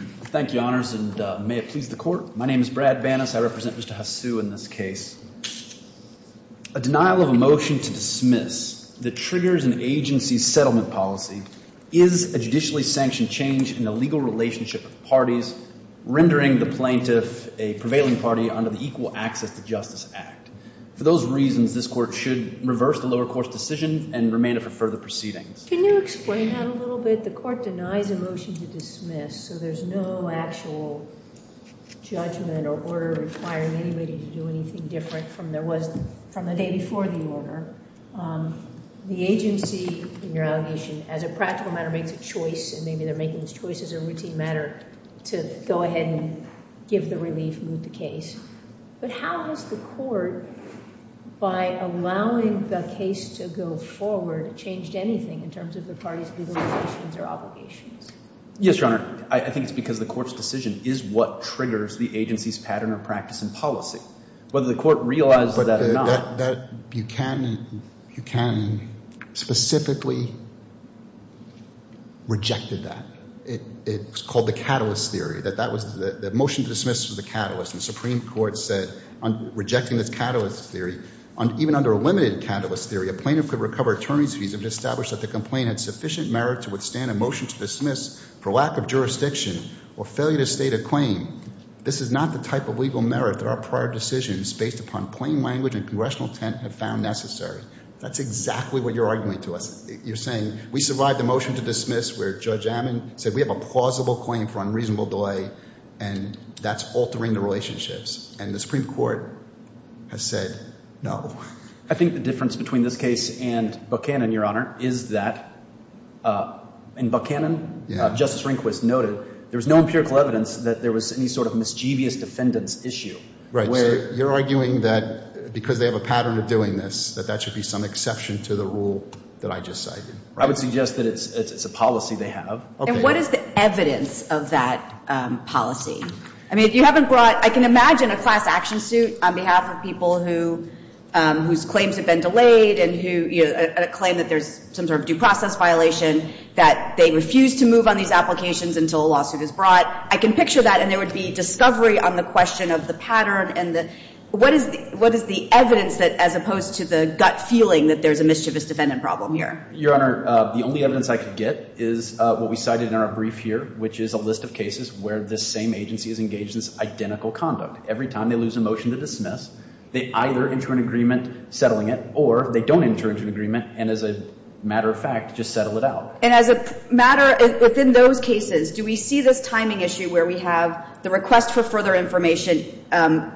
v. Bannis A denial of a motion to dismiss that triggers an agency's settlement policy is a judicially sanctioned change in the legal relationship of parties, rendering the plaintiff a prevailing party under the Equal Access to Justice Act. For those reasons, this Court should reverse the lower court's decision and remain it for further proceedings. Can you explain that a little bit? The Court denies a motion to dismiss, so there's no actual judgment or order requiring anybody to do anything different from there was from the day before the order. The agency, in your allegation, as a practical matter, makes a choice, and maybe they're making this choice as a routine matter to go ahead and give the relief and move the case. But how has the Court, by allowing the case to go forward, changed anything in terms of the parties' legalizations or obligations? Yes, Your Honor. I think it's because the Court's decision is what triggers the agency's pattern of practice and policy. Whether the Court realizes that or not. Buchanan specifically rejected that. It was called the catalyst theory. The motion to dismiss was the catalyst, and the Supreme Court said, on rejecting this catalyst theory, even under a limited catalyst theory, a plaintiff could recover attorney's fees if it's established that the complaint had sufficient merit to withstand a motion to dismiss for lack of jurisdiction or failure to state a claim. This is not the type of legal merit that our prior decisions, based upon plain language and congressional intent, have found necessary. That's exactly what you're arguing to us. You're saying, we survived the motion to dismiss where Judge Ammon said we have a plausible claim for unreasonable delay, and that's altering the relationships. And the Supreme Court has said no. I think the difference between this case and Buchanan, Your Honor, is that in Buchanan, Justice Rehnquist noted there was no empirical evidence that there was any sort of mischievous defendant's issue. Right. You're arguing that because they have a pattern of doing this, that that should be some exception to the rule that I just cited. I would suggest that it's a policy they have. And what is the evidence of that policy? I mean, if you haven't brought, I can imagine a class action suit on behalf of people who, whose claims have been delayed and who claim that there's some sort of due process violation, that they refuse to move on these applications until a lawsuit is brought. I can picture that, and there would be discovery on the question of the pattern and the, what is the evidence that, as opposed to the gut feeling that there's a mischievous defendant problem here? Your Honor, the only evidence I could get is what we cited in our brief here, which is a list of cases where the same agency is engaged in this identical conduct. Every time they lose a motion to dismiss, they either enter an agreement settling it, or they don't enter into an agreement and as a matter of fact, just settle it out. And as a matter, within those cases, do we see this timing issue where we have the request for further information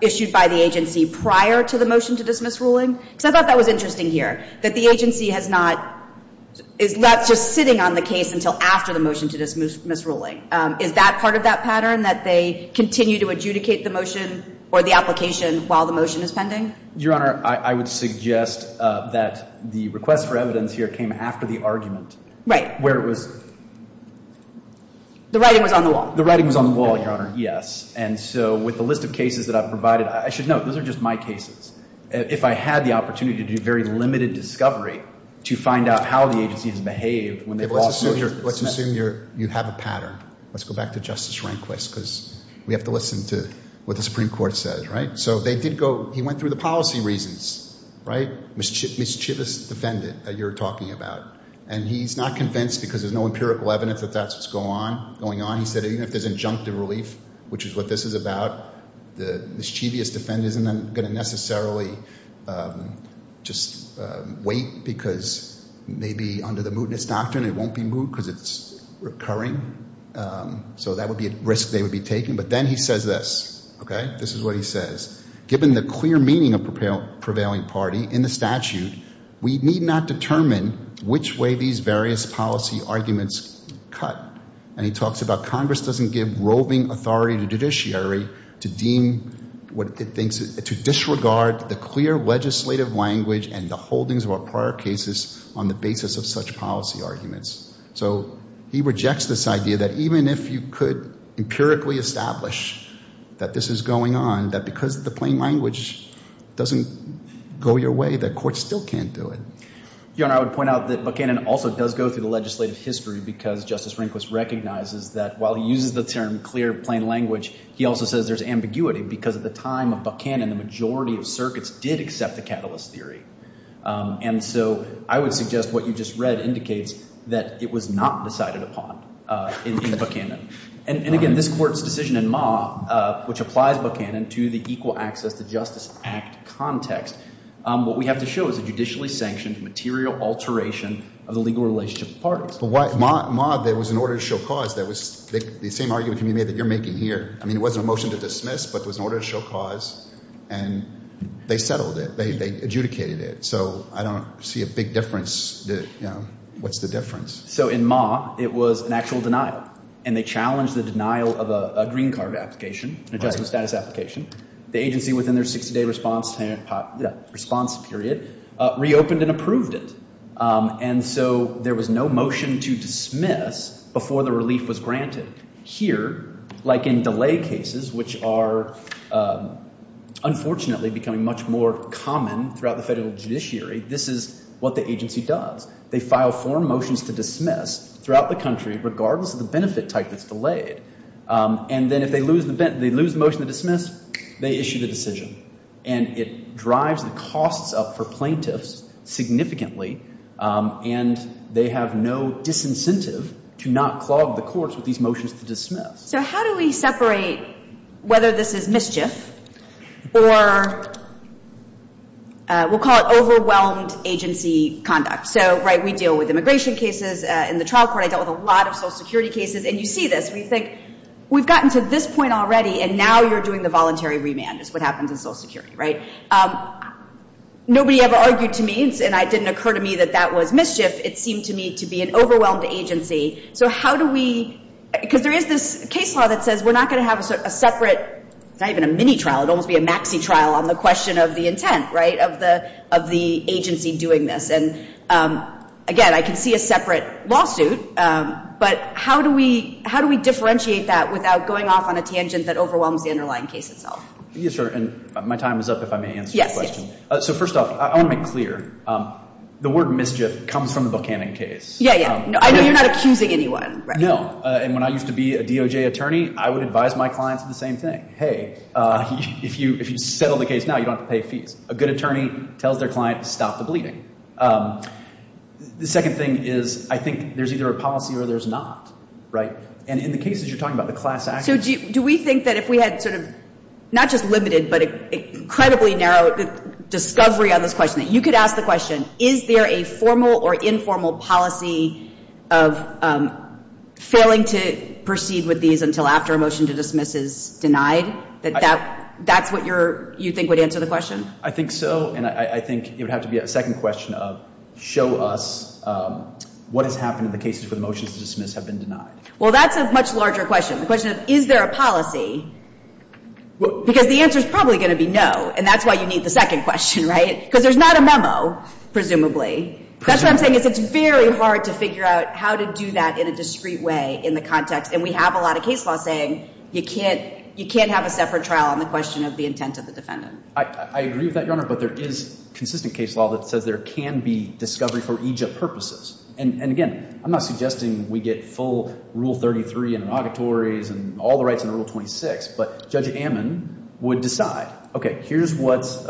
issued by the agency prior to the motion to dismiss ruling? Because I thought that was interesting here, that the agency has not, is left just sitting on the case until after the motion to dismiss ruling. Is that part of that pattern, that they continue to adjudicate the motion or the application while the motion is pending? Your Honor, I would suggest that the request for evidence here came after the argument. Right. Where it was... The writing was on the wall. The writing was on the wall, Your Honor. Yes. And so with the list of cases that I've provided, I should note, those are just my cases. If I had the opportunity to do very limited discovery to find out how the agency has behaved when they've lost... Let's assume you have a pattern. Let's go back to Justice Rehnquist because we have to listen to what the Supreme Court says, right? So they did go... He went through the policy reasons, right? Mischievous defendant that you're talking about. And he's not convinced because there's no empirical evidence that that's what's going on. He said even if there's injunctive relief, which is what this is about, the mischievous defendant isn't going to necessarily just wait because maybe under the mootness doctrine, it won't be moot because it's recurring. So that would be a risk they would be taking. But then he says this, okay? This is what he says. Given the clear meaning of prevailing party in the statute, we need not determine which way these various policy arguments cut. And he talks about Congress doesn't give roving authority to judiciary to deem what it thinks... To disregard the clear legislative language and the holdings of our prior cases on the basis of such policy arguments. So he rejects this idea that even if you could empirically establish that this is going on, that because the plain language doesn't go your way, the court still can't do it. Your Honor, I would point out that Buchanan also does go through the legislative history because Justice Rehnquist recognizes that while he uses the term clear plain language, he also says there's ambiguity because at the time of Buchanan, the majority of circuits did accept the catalyst theory. And so I would suggest what you just read indicates that it was not decided upon in Buchanan. And again, this court's decision in Ma, which applies Buchanan to the Equal Access to Justice Act context, what we have to show is a judicially sanctioned material alteration of the legal relationship of parties. But Ma, there was an order to show cause that was the same argument you made that you're making here. I mean, it wasn't a motion to dismiss, but it was an order to show cause. And they settled it. They adjudicated it. So I don't see a big difference. What's the difference? So in Ma, it was an actual denial. And they challenged the denial of a green card application, an adjustment status application. The agency within their 60-day response period reopened and approved it. And so there was no motion to dismiss before the relief was granted. Here, like in delay cases, which are unfortunately becoming much more common throughout the federal judiciary, this is what the agency does. They file form motions to dismiss throughout the country, regardless of the benefit type that's delayed. And then if they lose the motion to dismiss, they issue the decision. And it drives the costs up for plaintiffs significantly. And they have no disincentive to not clog the courts with these motions to dismiss. So how do we separate whether this is mischief or we'll call it overwhelmed agency conduct? So, right, we deal with immigration cases. In the trial court, I dealt with a lot of Social Security cases. And you see this. We think, we've gotten to this point already, and now you're doing the voluntary remand is what happens in Social Security, right? Nobody ever argued to me, and it didn't occur to me that that was mischief. It seemed to me to be an overwhelmed agency. So how do we, because there is this case law that says we're not going to have a separate, not even a mini-trial, it would almost be a maxi-trial on the question of the intent, right, of the agency doing this. And again, I can see a separate lawsuit. But how do we differentiate that without going off on a tangent that overwhelms the underlying case itself? Yes, sir. And my time is up, if I may answer your question. So first off, I want to make clear, the word mischief comes from the Buchanan case. Yeah, yeah. I know you're not accusing anyone. No. And when I used to be a DOJ attorney, I would advise my clients the same thing. Hey, if you settle the case now, you don't have to pay fees. A good attorney tells their client, stop the bleeding. The second thing is, I think there's either a policy or there's not, right? And in the cases you're talking about, the class action. Do we think that if we had sort of, not just limited, but incredibly narrow discovery on this question, that you could ask the question, is there a formal or informal policy of failing to proceed with these until after a motion to dismiss is denied? That that's what you think would answer the question? I think so. And I think it would have to be a second question of, show us what has happened in the cases where the motions to dismiss have been denied. Well, that's a much larger question. The question of, is there a policy? Because the answer is probably going to be no. And that's why you need the second question, right? Because there's not a memo, presumably. That's what I'm saying is it's very hard to figure out how to do that in a discreet way in the context. And we have a lot of case law saying you can't have a separate trial on the question of the intent of the defendant. I agree with that, Your Honor. But there is consistent case law that says there can be discovery for EGIP purposes. And again, I'm not suggesting we get full Rule 33 in inauguratories and all the rights in Rule 26. But Judge Ammon would decide, okay, here's what's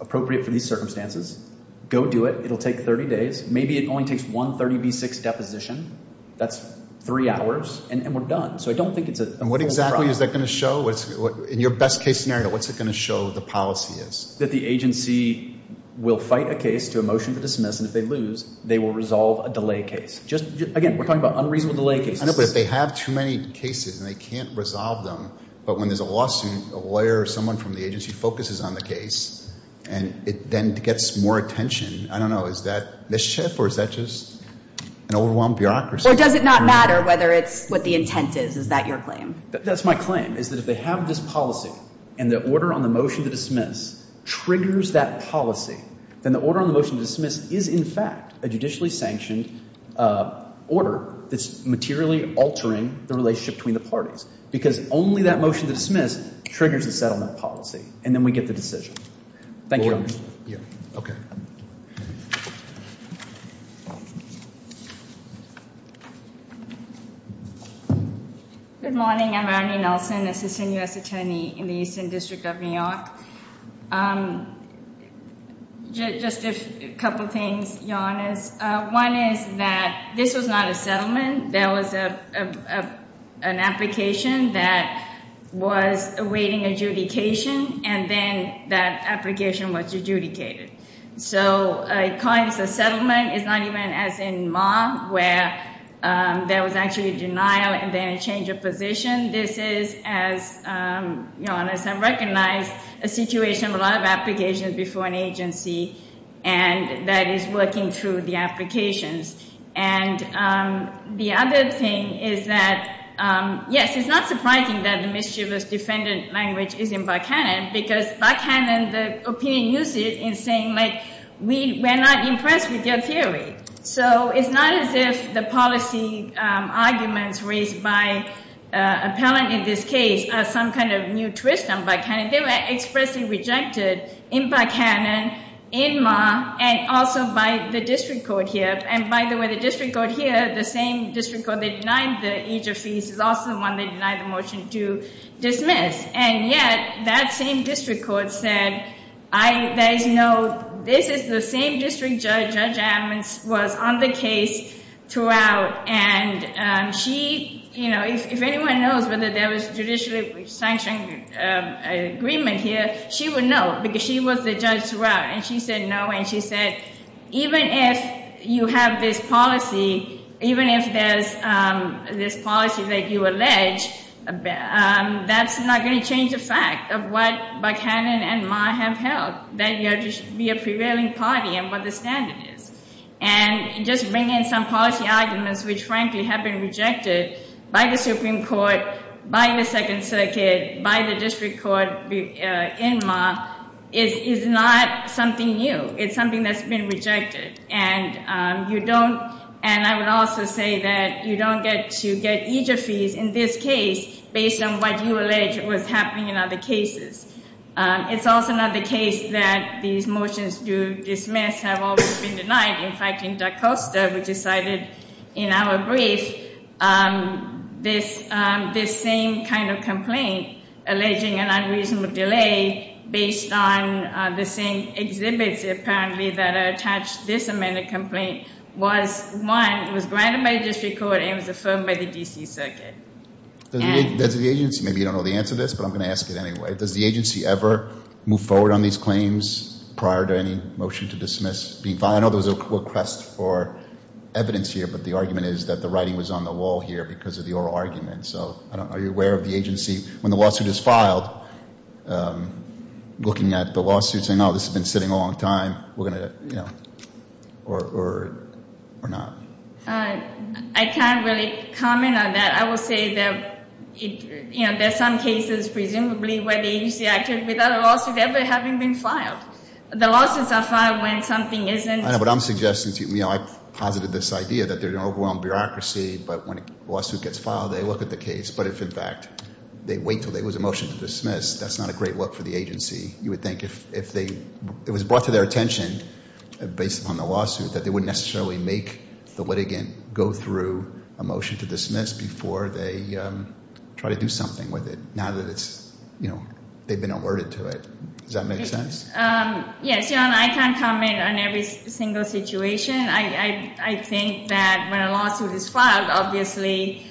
appropriate for these circumstances. Go do it. It'll take 30 days. Maybe it only takes one 30B6 deposition. That's three hours. And we're done. So I don't think it's a full trial. And what exactly is that going to show? In your best case scenario, what's it going to show the policy is? That the agency will fight a case to a motion to dismiss. And if they lose, they will resolve a delay case. Again, we're talking about unreasonable delay cases. I know, but if they have too many cases and they can't resolve them, but when there's a lawsuit, a lawyer or someone from the agency focuses on the case and it then gets more attention. I don't know. Is that mischief or is that just an overwhelmed bureaucracy? Or does it not matter whether it's what the intent is? Is that your claim? That's my claim is that if they have this policy and the order on the motion to dismiss, triggers that policy, then the order on the motion to dismiss is in fact, a judicially sanctioned order that's materially altering the relationship between the parties, because only that motion to dismiss triggers the settlement policy. And then we get the decision. Thank you. Good morning. I'm Arnie Nelson, Assistant U.S. Attorney in the Eastern District of New York. Just a couple of things, Your Honors. One is that this was not a settlement. There was an application that was awaiting adjudication, and then that application was adjudicated. So, calling this a settlement is not even as in Ma, where there was actually a denial and then change of position. This is, as Your Honors have recognized, a situation of a lot of applications before an agency, and that is working through the applications. And the other thing is that, yes, it's not surprising that the mischievous defendant language is in Buckhannon, because Buckhannon, the opinion uses it in saying like, we're not impressed with your theory. So, it's not as if the policy arguments raised by an appellant in this case are some kind of new twist on Buckhannon. They were expressly rejected in Buckhannon, in Ma, and also by the district court here. And by the way, the district court here, the same district court that denied the age of fees is also the one that denied the motion to dismiss. And yet, that same district court said, I, there is no, this is the same district judge, Judge Ammons, was on the case throughout. And she, you know, if anyone knows whether there was a judicially sanctioned agreement here, she would know, because she was the judge throughout. And she said no, and she said, even if you have this policy, even if there's this policy that you allege, that's not going to change the fact of what Buckhannon and Ma have held, that you have to be a prevailing party and what the standard is. And just bringing in some policy arguments, which frankly have been rejected by the Supreme Court, by the Second Circuit, by the district court in Ma, is not something new. It's something that's been rejected. And you don't, and I would also say that you don't get to get age of fees in this case based on what you allege was happening in other cases. It's also not the case that these motions to dismiss have always been denied. In fact, in Da Costa, which is cited in our brief, this same kind of complaint alleging an unreasonable delay based on the same exhibits, apparently, that are attached to this amended complaint, was one, it was granted by the district court, and it was affirmed by the D.C. Circuit. Does the agency, maybe you don't know the answer to this, but I'm going to ask it anyway, does the agency ever move forward on these claims prior to any motion to dismiss being filed? I know there was a request for evidence here, but the argument is that the writing was on the wall here because of the oral argument. So are you aware of the agency, when the lawsuit is filed, looking at the lawsuit saying, oh, this has been sitting a long time, we're going to, or not? I can't really comment on that. I will say that, you know, there's some cases, presumably, where the agency acted without a lawsuit ever having been filed. The lawsuits are filed when something isn't. I know, but I'm suggesting to you, you know, I posited this idea that there's an overwhelmed bureaucracy, but when a lawsuit gets filed, they look at the case. But if, in fact, they wait until there was a motion to dismiss, that's not a great look for the agency. You would think if they, it was brought to their attention, based upon the lawsuit, that they wouldn't necessarily make the litigant go through a motion to dismiss before they try to do something with it, now that it's, you know, they've been alerted to it. Does that make sense? Yes, John, I can't comment on every single situation. I think that when a lawsuit is filed, obviously,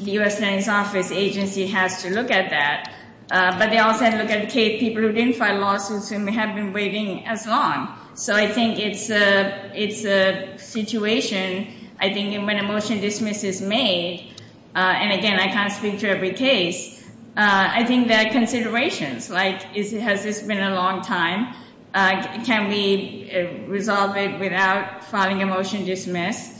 the U.S. Attorney's Office agency has to look at that. But they also have to look at people who didn't file lawsuits and have been waiting as long. So I think it's a situation. I think when a motion to dismiss is made, and again, I can't speak to every case, I think there are considerations, like, has this been a long time? Can we resolve it without filing a motion to dismiss?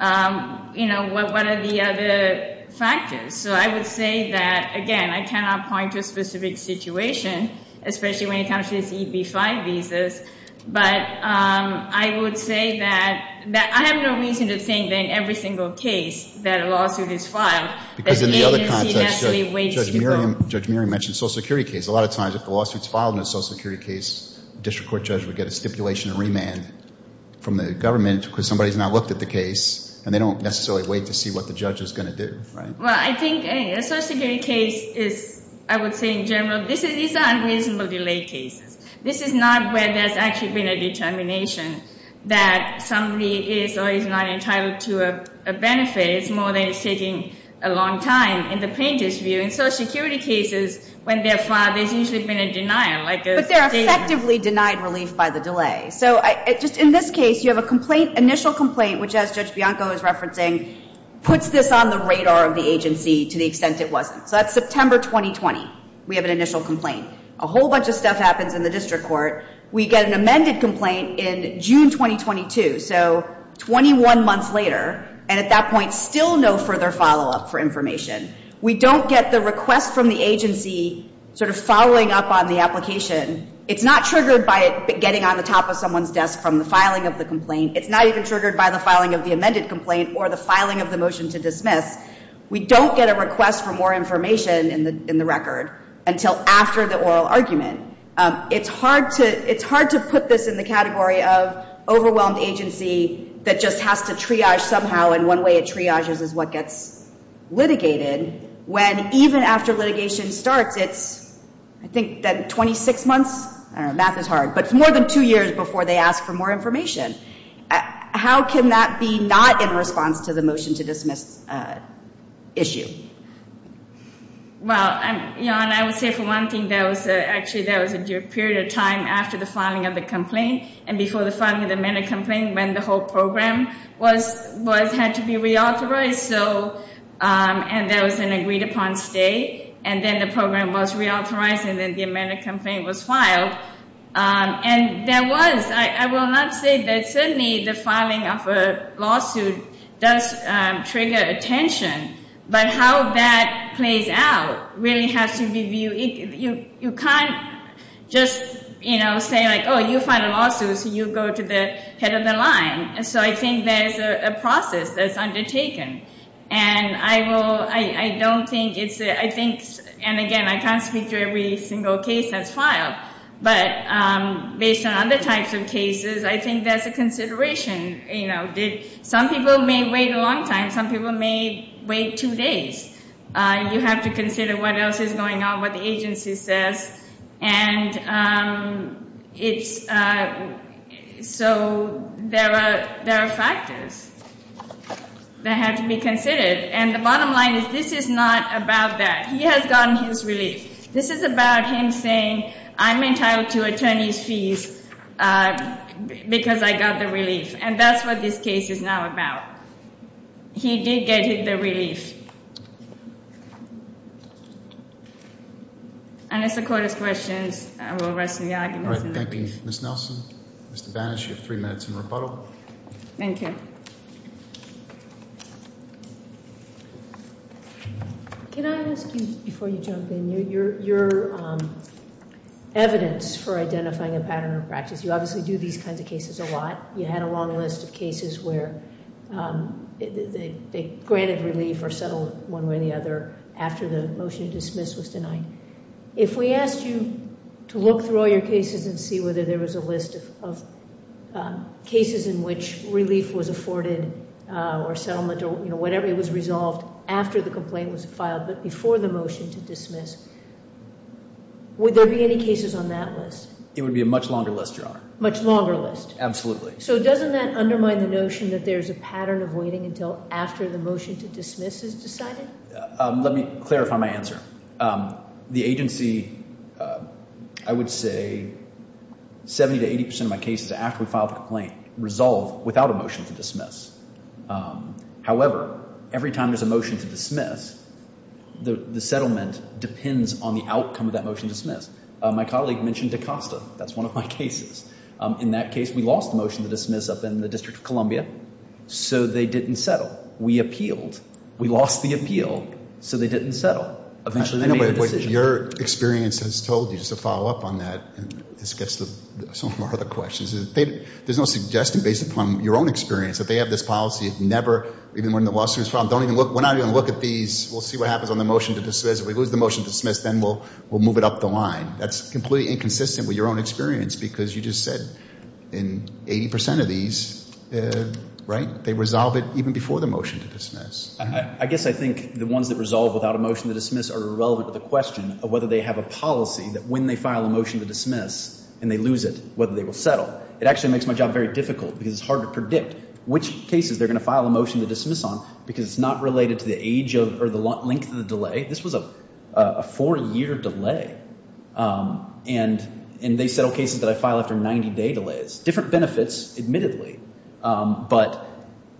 You know, what are the other factors? So I would say that, again, I cannot point to a specific situation, especially when it comes to these EB-5 visas, but I would say that I have no reason to think that in every single case that a lawsuit is filed, that the agency necessarily waits to go. Because in the other context, Judge Miriam mentioned social security case. A lot of times, if the lawsuit's filed in a social security case, the district court judge would get a stipulation of remand from the government because somebody's not looked at the case, and they don't necessarily wait to see what the judge is going to do, right? Well, I think a social security case is, I would say in general, these are unreasonable delay cases. This is not where there's actually been a determination that somebody is or is not entitled to a benefit. It's more than it's taking a long time in the plaintiff's view. In social security cases, when they're filed, there's usually been a denial, like a statement. But they're effectively denied relief by the delay. So, just in this case, you have a complaint, initial complaint, which, as Judge Bianco is referencing, puts this on the radar of the agency to the extent it wasn't. So, that's September 2020. We have an initial complaint. A whole bunch of stuff happens in the district court. We get an amended complaint in June 2022. So, 21 months later, and at that point, still no further follow-up for information. We don't get the request from the agency sort of following up on the application. It's not triggered by it getting on the top of someone's desk from the filing of the complaint. It's not even triggered by the filing of the amended complaint or the filing of the motion to dismiss. We don't get a request for more information in the record until after the oral argument. It's hard to put this in the category of overwhelmed agency that just has to triage somehow, and one way it triages is what gets litigated, when even after litigation starts, it's I think that 26 months. I don't know. Math is hard. But it's more than two years before they ask for more information. How can that be not in response to the motion to dismiss issue? Well, and I would say for one thing, that was actually, that was a period of time after the filing of the complaint, and before the filing of the amended complaint, when the whole program had to be reauthorized. So, and there was an agreed upon stay, and then the program was reauthorized, and then the amended complaint was filed. And there was, I will not say that certainly the filing of a lawsuit does trigger attention, but how that plays out really has to be viewed. You can't just, you know, say like, oh, you find a lawsuit, so you go to the head of the line. So I think there's a process that's undertaken, and I will, I don't think it's, I think, and again, I can't speak to every single case that's filed, but based on other types of cases, I think there's a consideration, you know. Some people may wait a long time. Some people may wait two days. You have to consider what else is going on, what the agency says, and it's, so there are factors that have to be considered. And the bottom line is, this is not about that. He has gotten his relief. This is about him saying, I'm entitled to attorney's fees because I got the relief. And that's what this case is now about. He did get the relief. And as the court has questions, I will rest of the arguments. All right, thank you. Ms. Nelson, Mr. Banish, you have three minutes in rebuttal. Thank you. Thank you. Can I ask you, before you jump in, your evidence for identifying a pattern of practice? You obviously do these kinds of cases a lot. You had a long list of cases where they granted relief or settled one way or the other after the motion to dismiss was denied. If we asked you to look through all your cases and see whether there was a list of cases in which relief was afforded or settlement or whatever was resolved after the complaint was filed, but before the motion to dismiss, would there be any cases on that list? It would be a much longer list, Your Honor. Much longer list? Absolutely. So doesn't that undermine the notion that there's a pattern of waiting until after the motion to dismiss is decided? Let me clarify my answer. The agency, I would say 70 to 80 percent of my cases after we file the complaint resolve without a motion to dismiss. However, every time there's a motion to dismiss, the settlement depends on the outcome of that motion to dismiss. My colleague mentioned DaCosta. That's one of my cases. In that case, we lost the motion to dismiss up in the District of Columbia, so they didn't settle. We appealed. We lost the appeal, so they didn't settle. I know, but what your experience has told you, just to follow up on that, and this gets to some of our other questions, is there's no suggestion based upon your own experience that they have this policy of never, even when the lawsuit is filed, don't even look, we're not going to look at these. We'll see what happens on the motion to dismiss. If we lose the motion to dismiss, then we'll move it up the line. That's completely inconsistent with your own experience because you just said in 80 percent of these, right, they resolve it even before the motion to dismiss. I guess I think the ones that resolve without a motion to dismiss are irrelevant to the question of whether they have a policy that when they file a motion to dismiss and they lose it, whether they will settle. It actually makes my job very difficult because it's hard to predict which cases they're going to file a motion to dismiss on because it's not related to the age of or the length of the delay. This was a four-year delay, and they settle cases that I file after 90-day delays. Different benefits, admittedly, but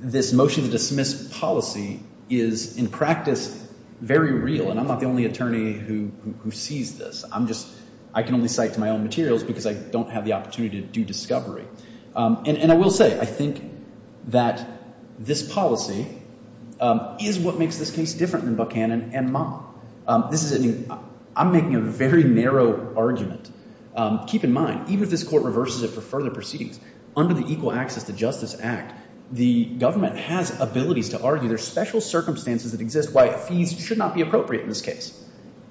this motion to dismiss policy is in practice very real, and I'm not the only attorney who sees this. I'm just, I can only cite to my own materials because I don't have the opportunity to do discovery. And I will say, I think that this policy is what makes this case different than Buchanan and Ma. This is, I'm making a very narrow argument. Keep in mind, even if this court reverses it for further proceedings, under the Equal Access to Justice Act, the government has abilities to argue there's special circumstances that exist why fees should not be appropriate in this case.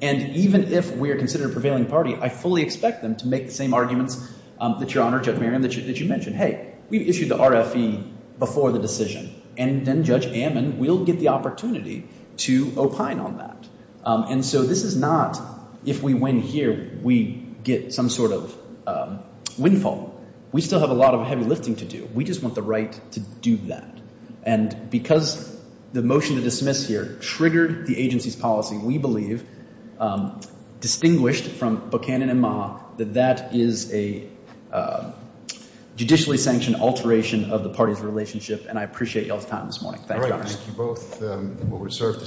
And even if we are considered a prevailing party, I fully expect them to make the same arguments that Your Honor, Judge Merriam, that you mentioned. Hey, we've issued the RFE before the decision, and then Judge Amman will get the opportunity to opine on that. And so this is not, if we win here, we get some sort of windfall. We still have a lot of heavy lifting to do. We just want the right to do that. And because the motion to dismiss here triggered the agency's policy, we believe, distinguished from Buchanan and Ma, that that is a judicially sanctioned alteration of the party's relationship, and I appreciate y'all's time this morning. Thank you, Your Honor. All right. Thank you both. We will reserve the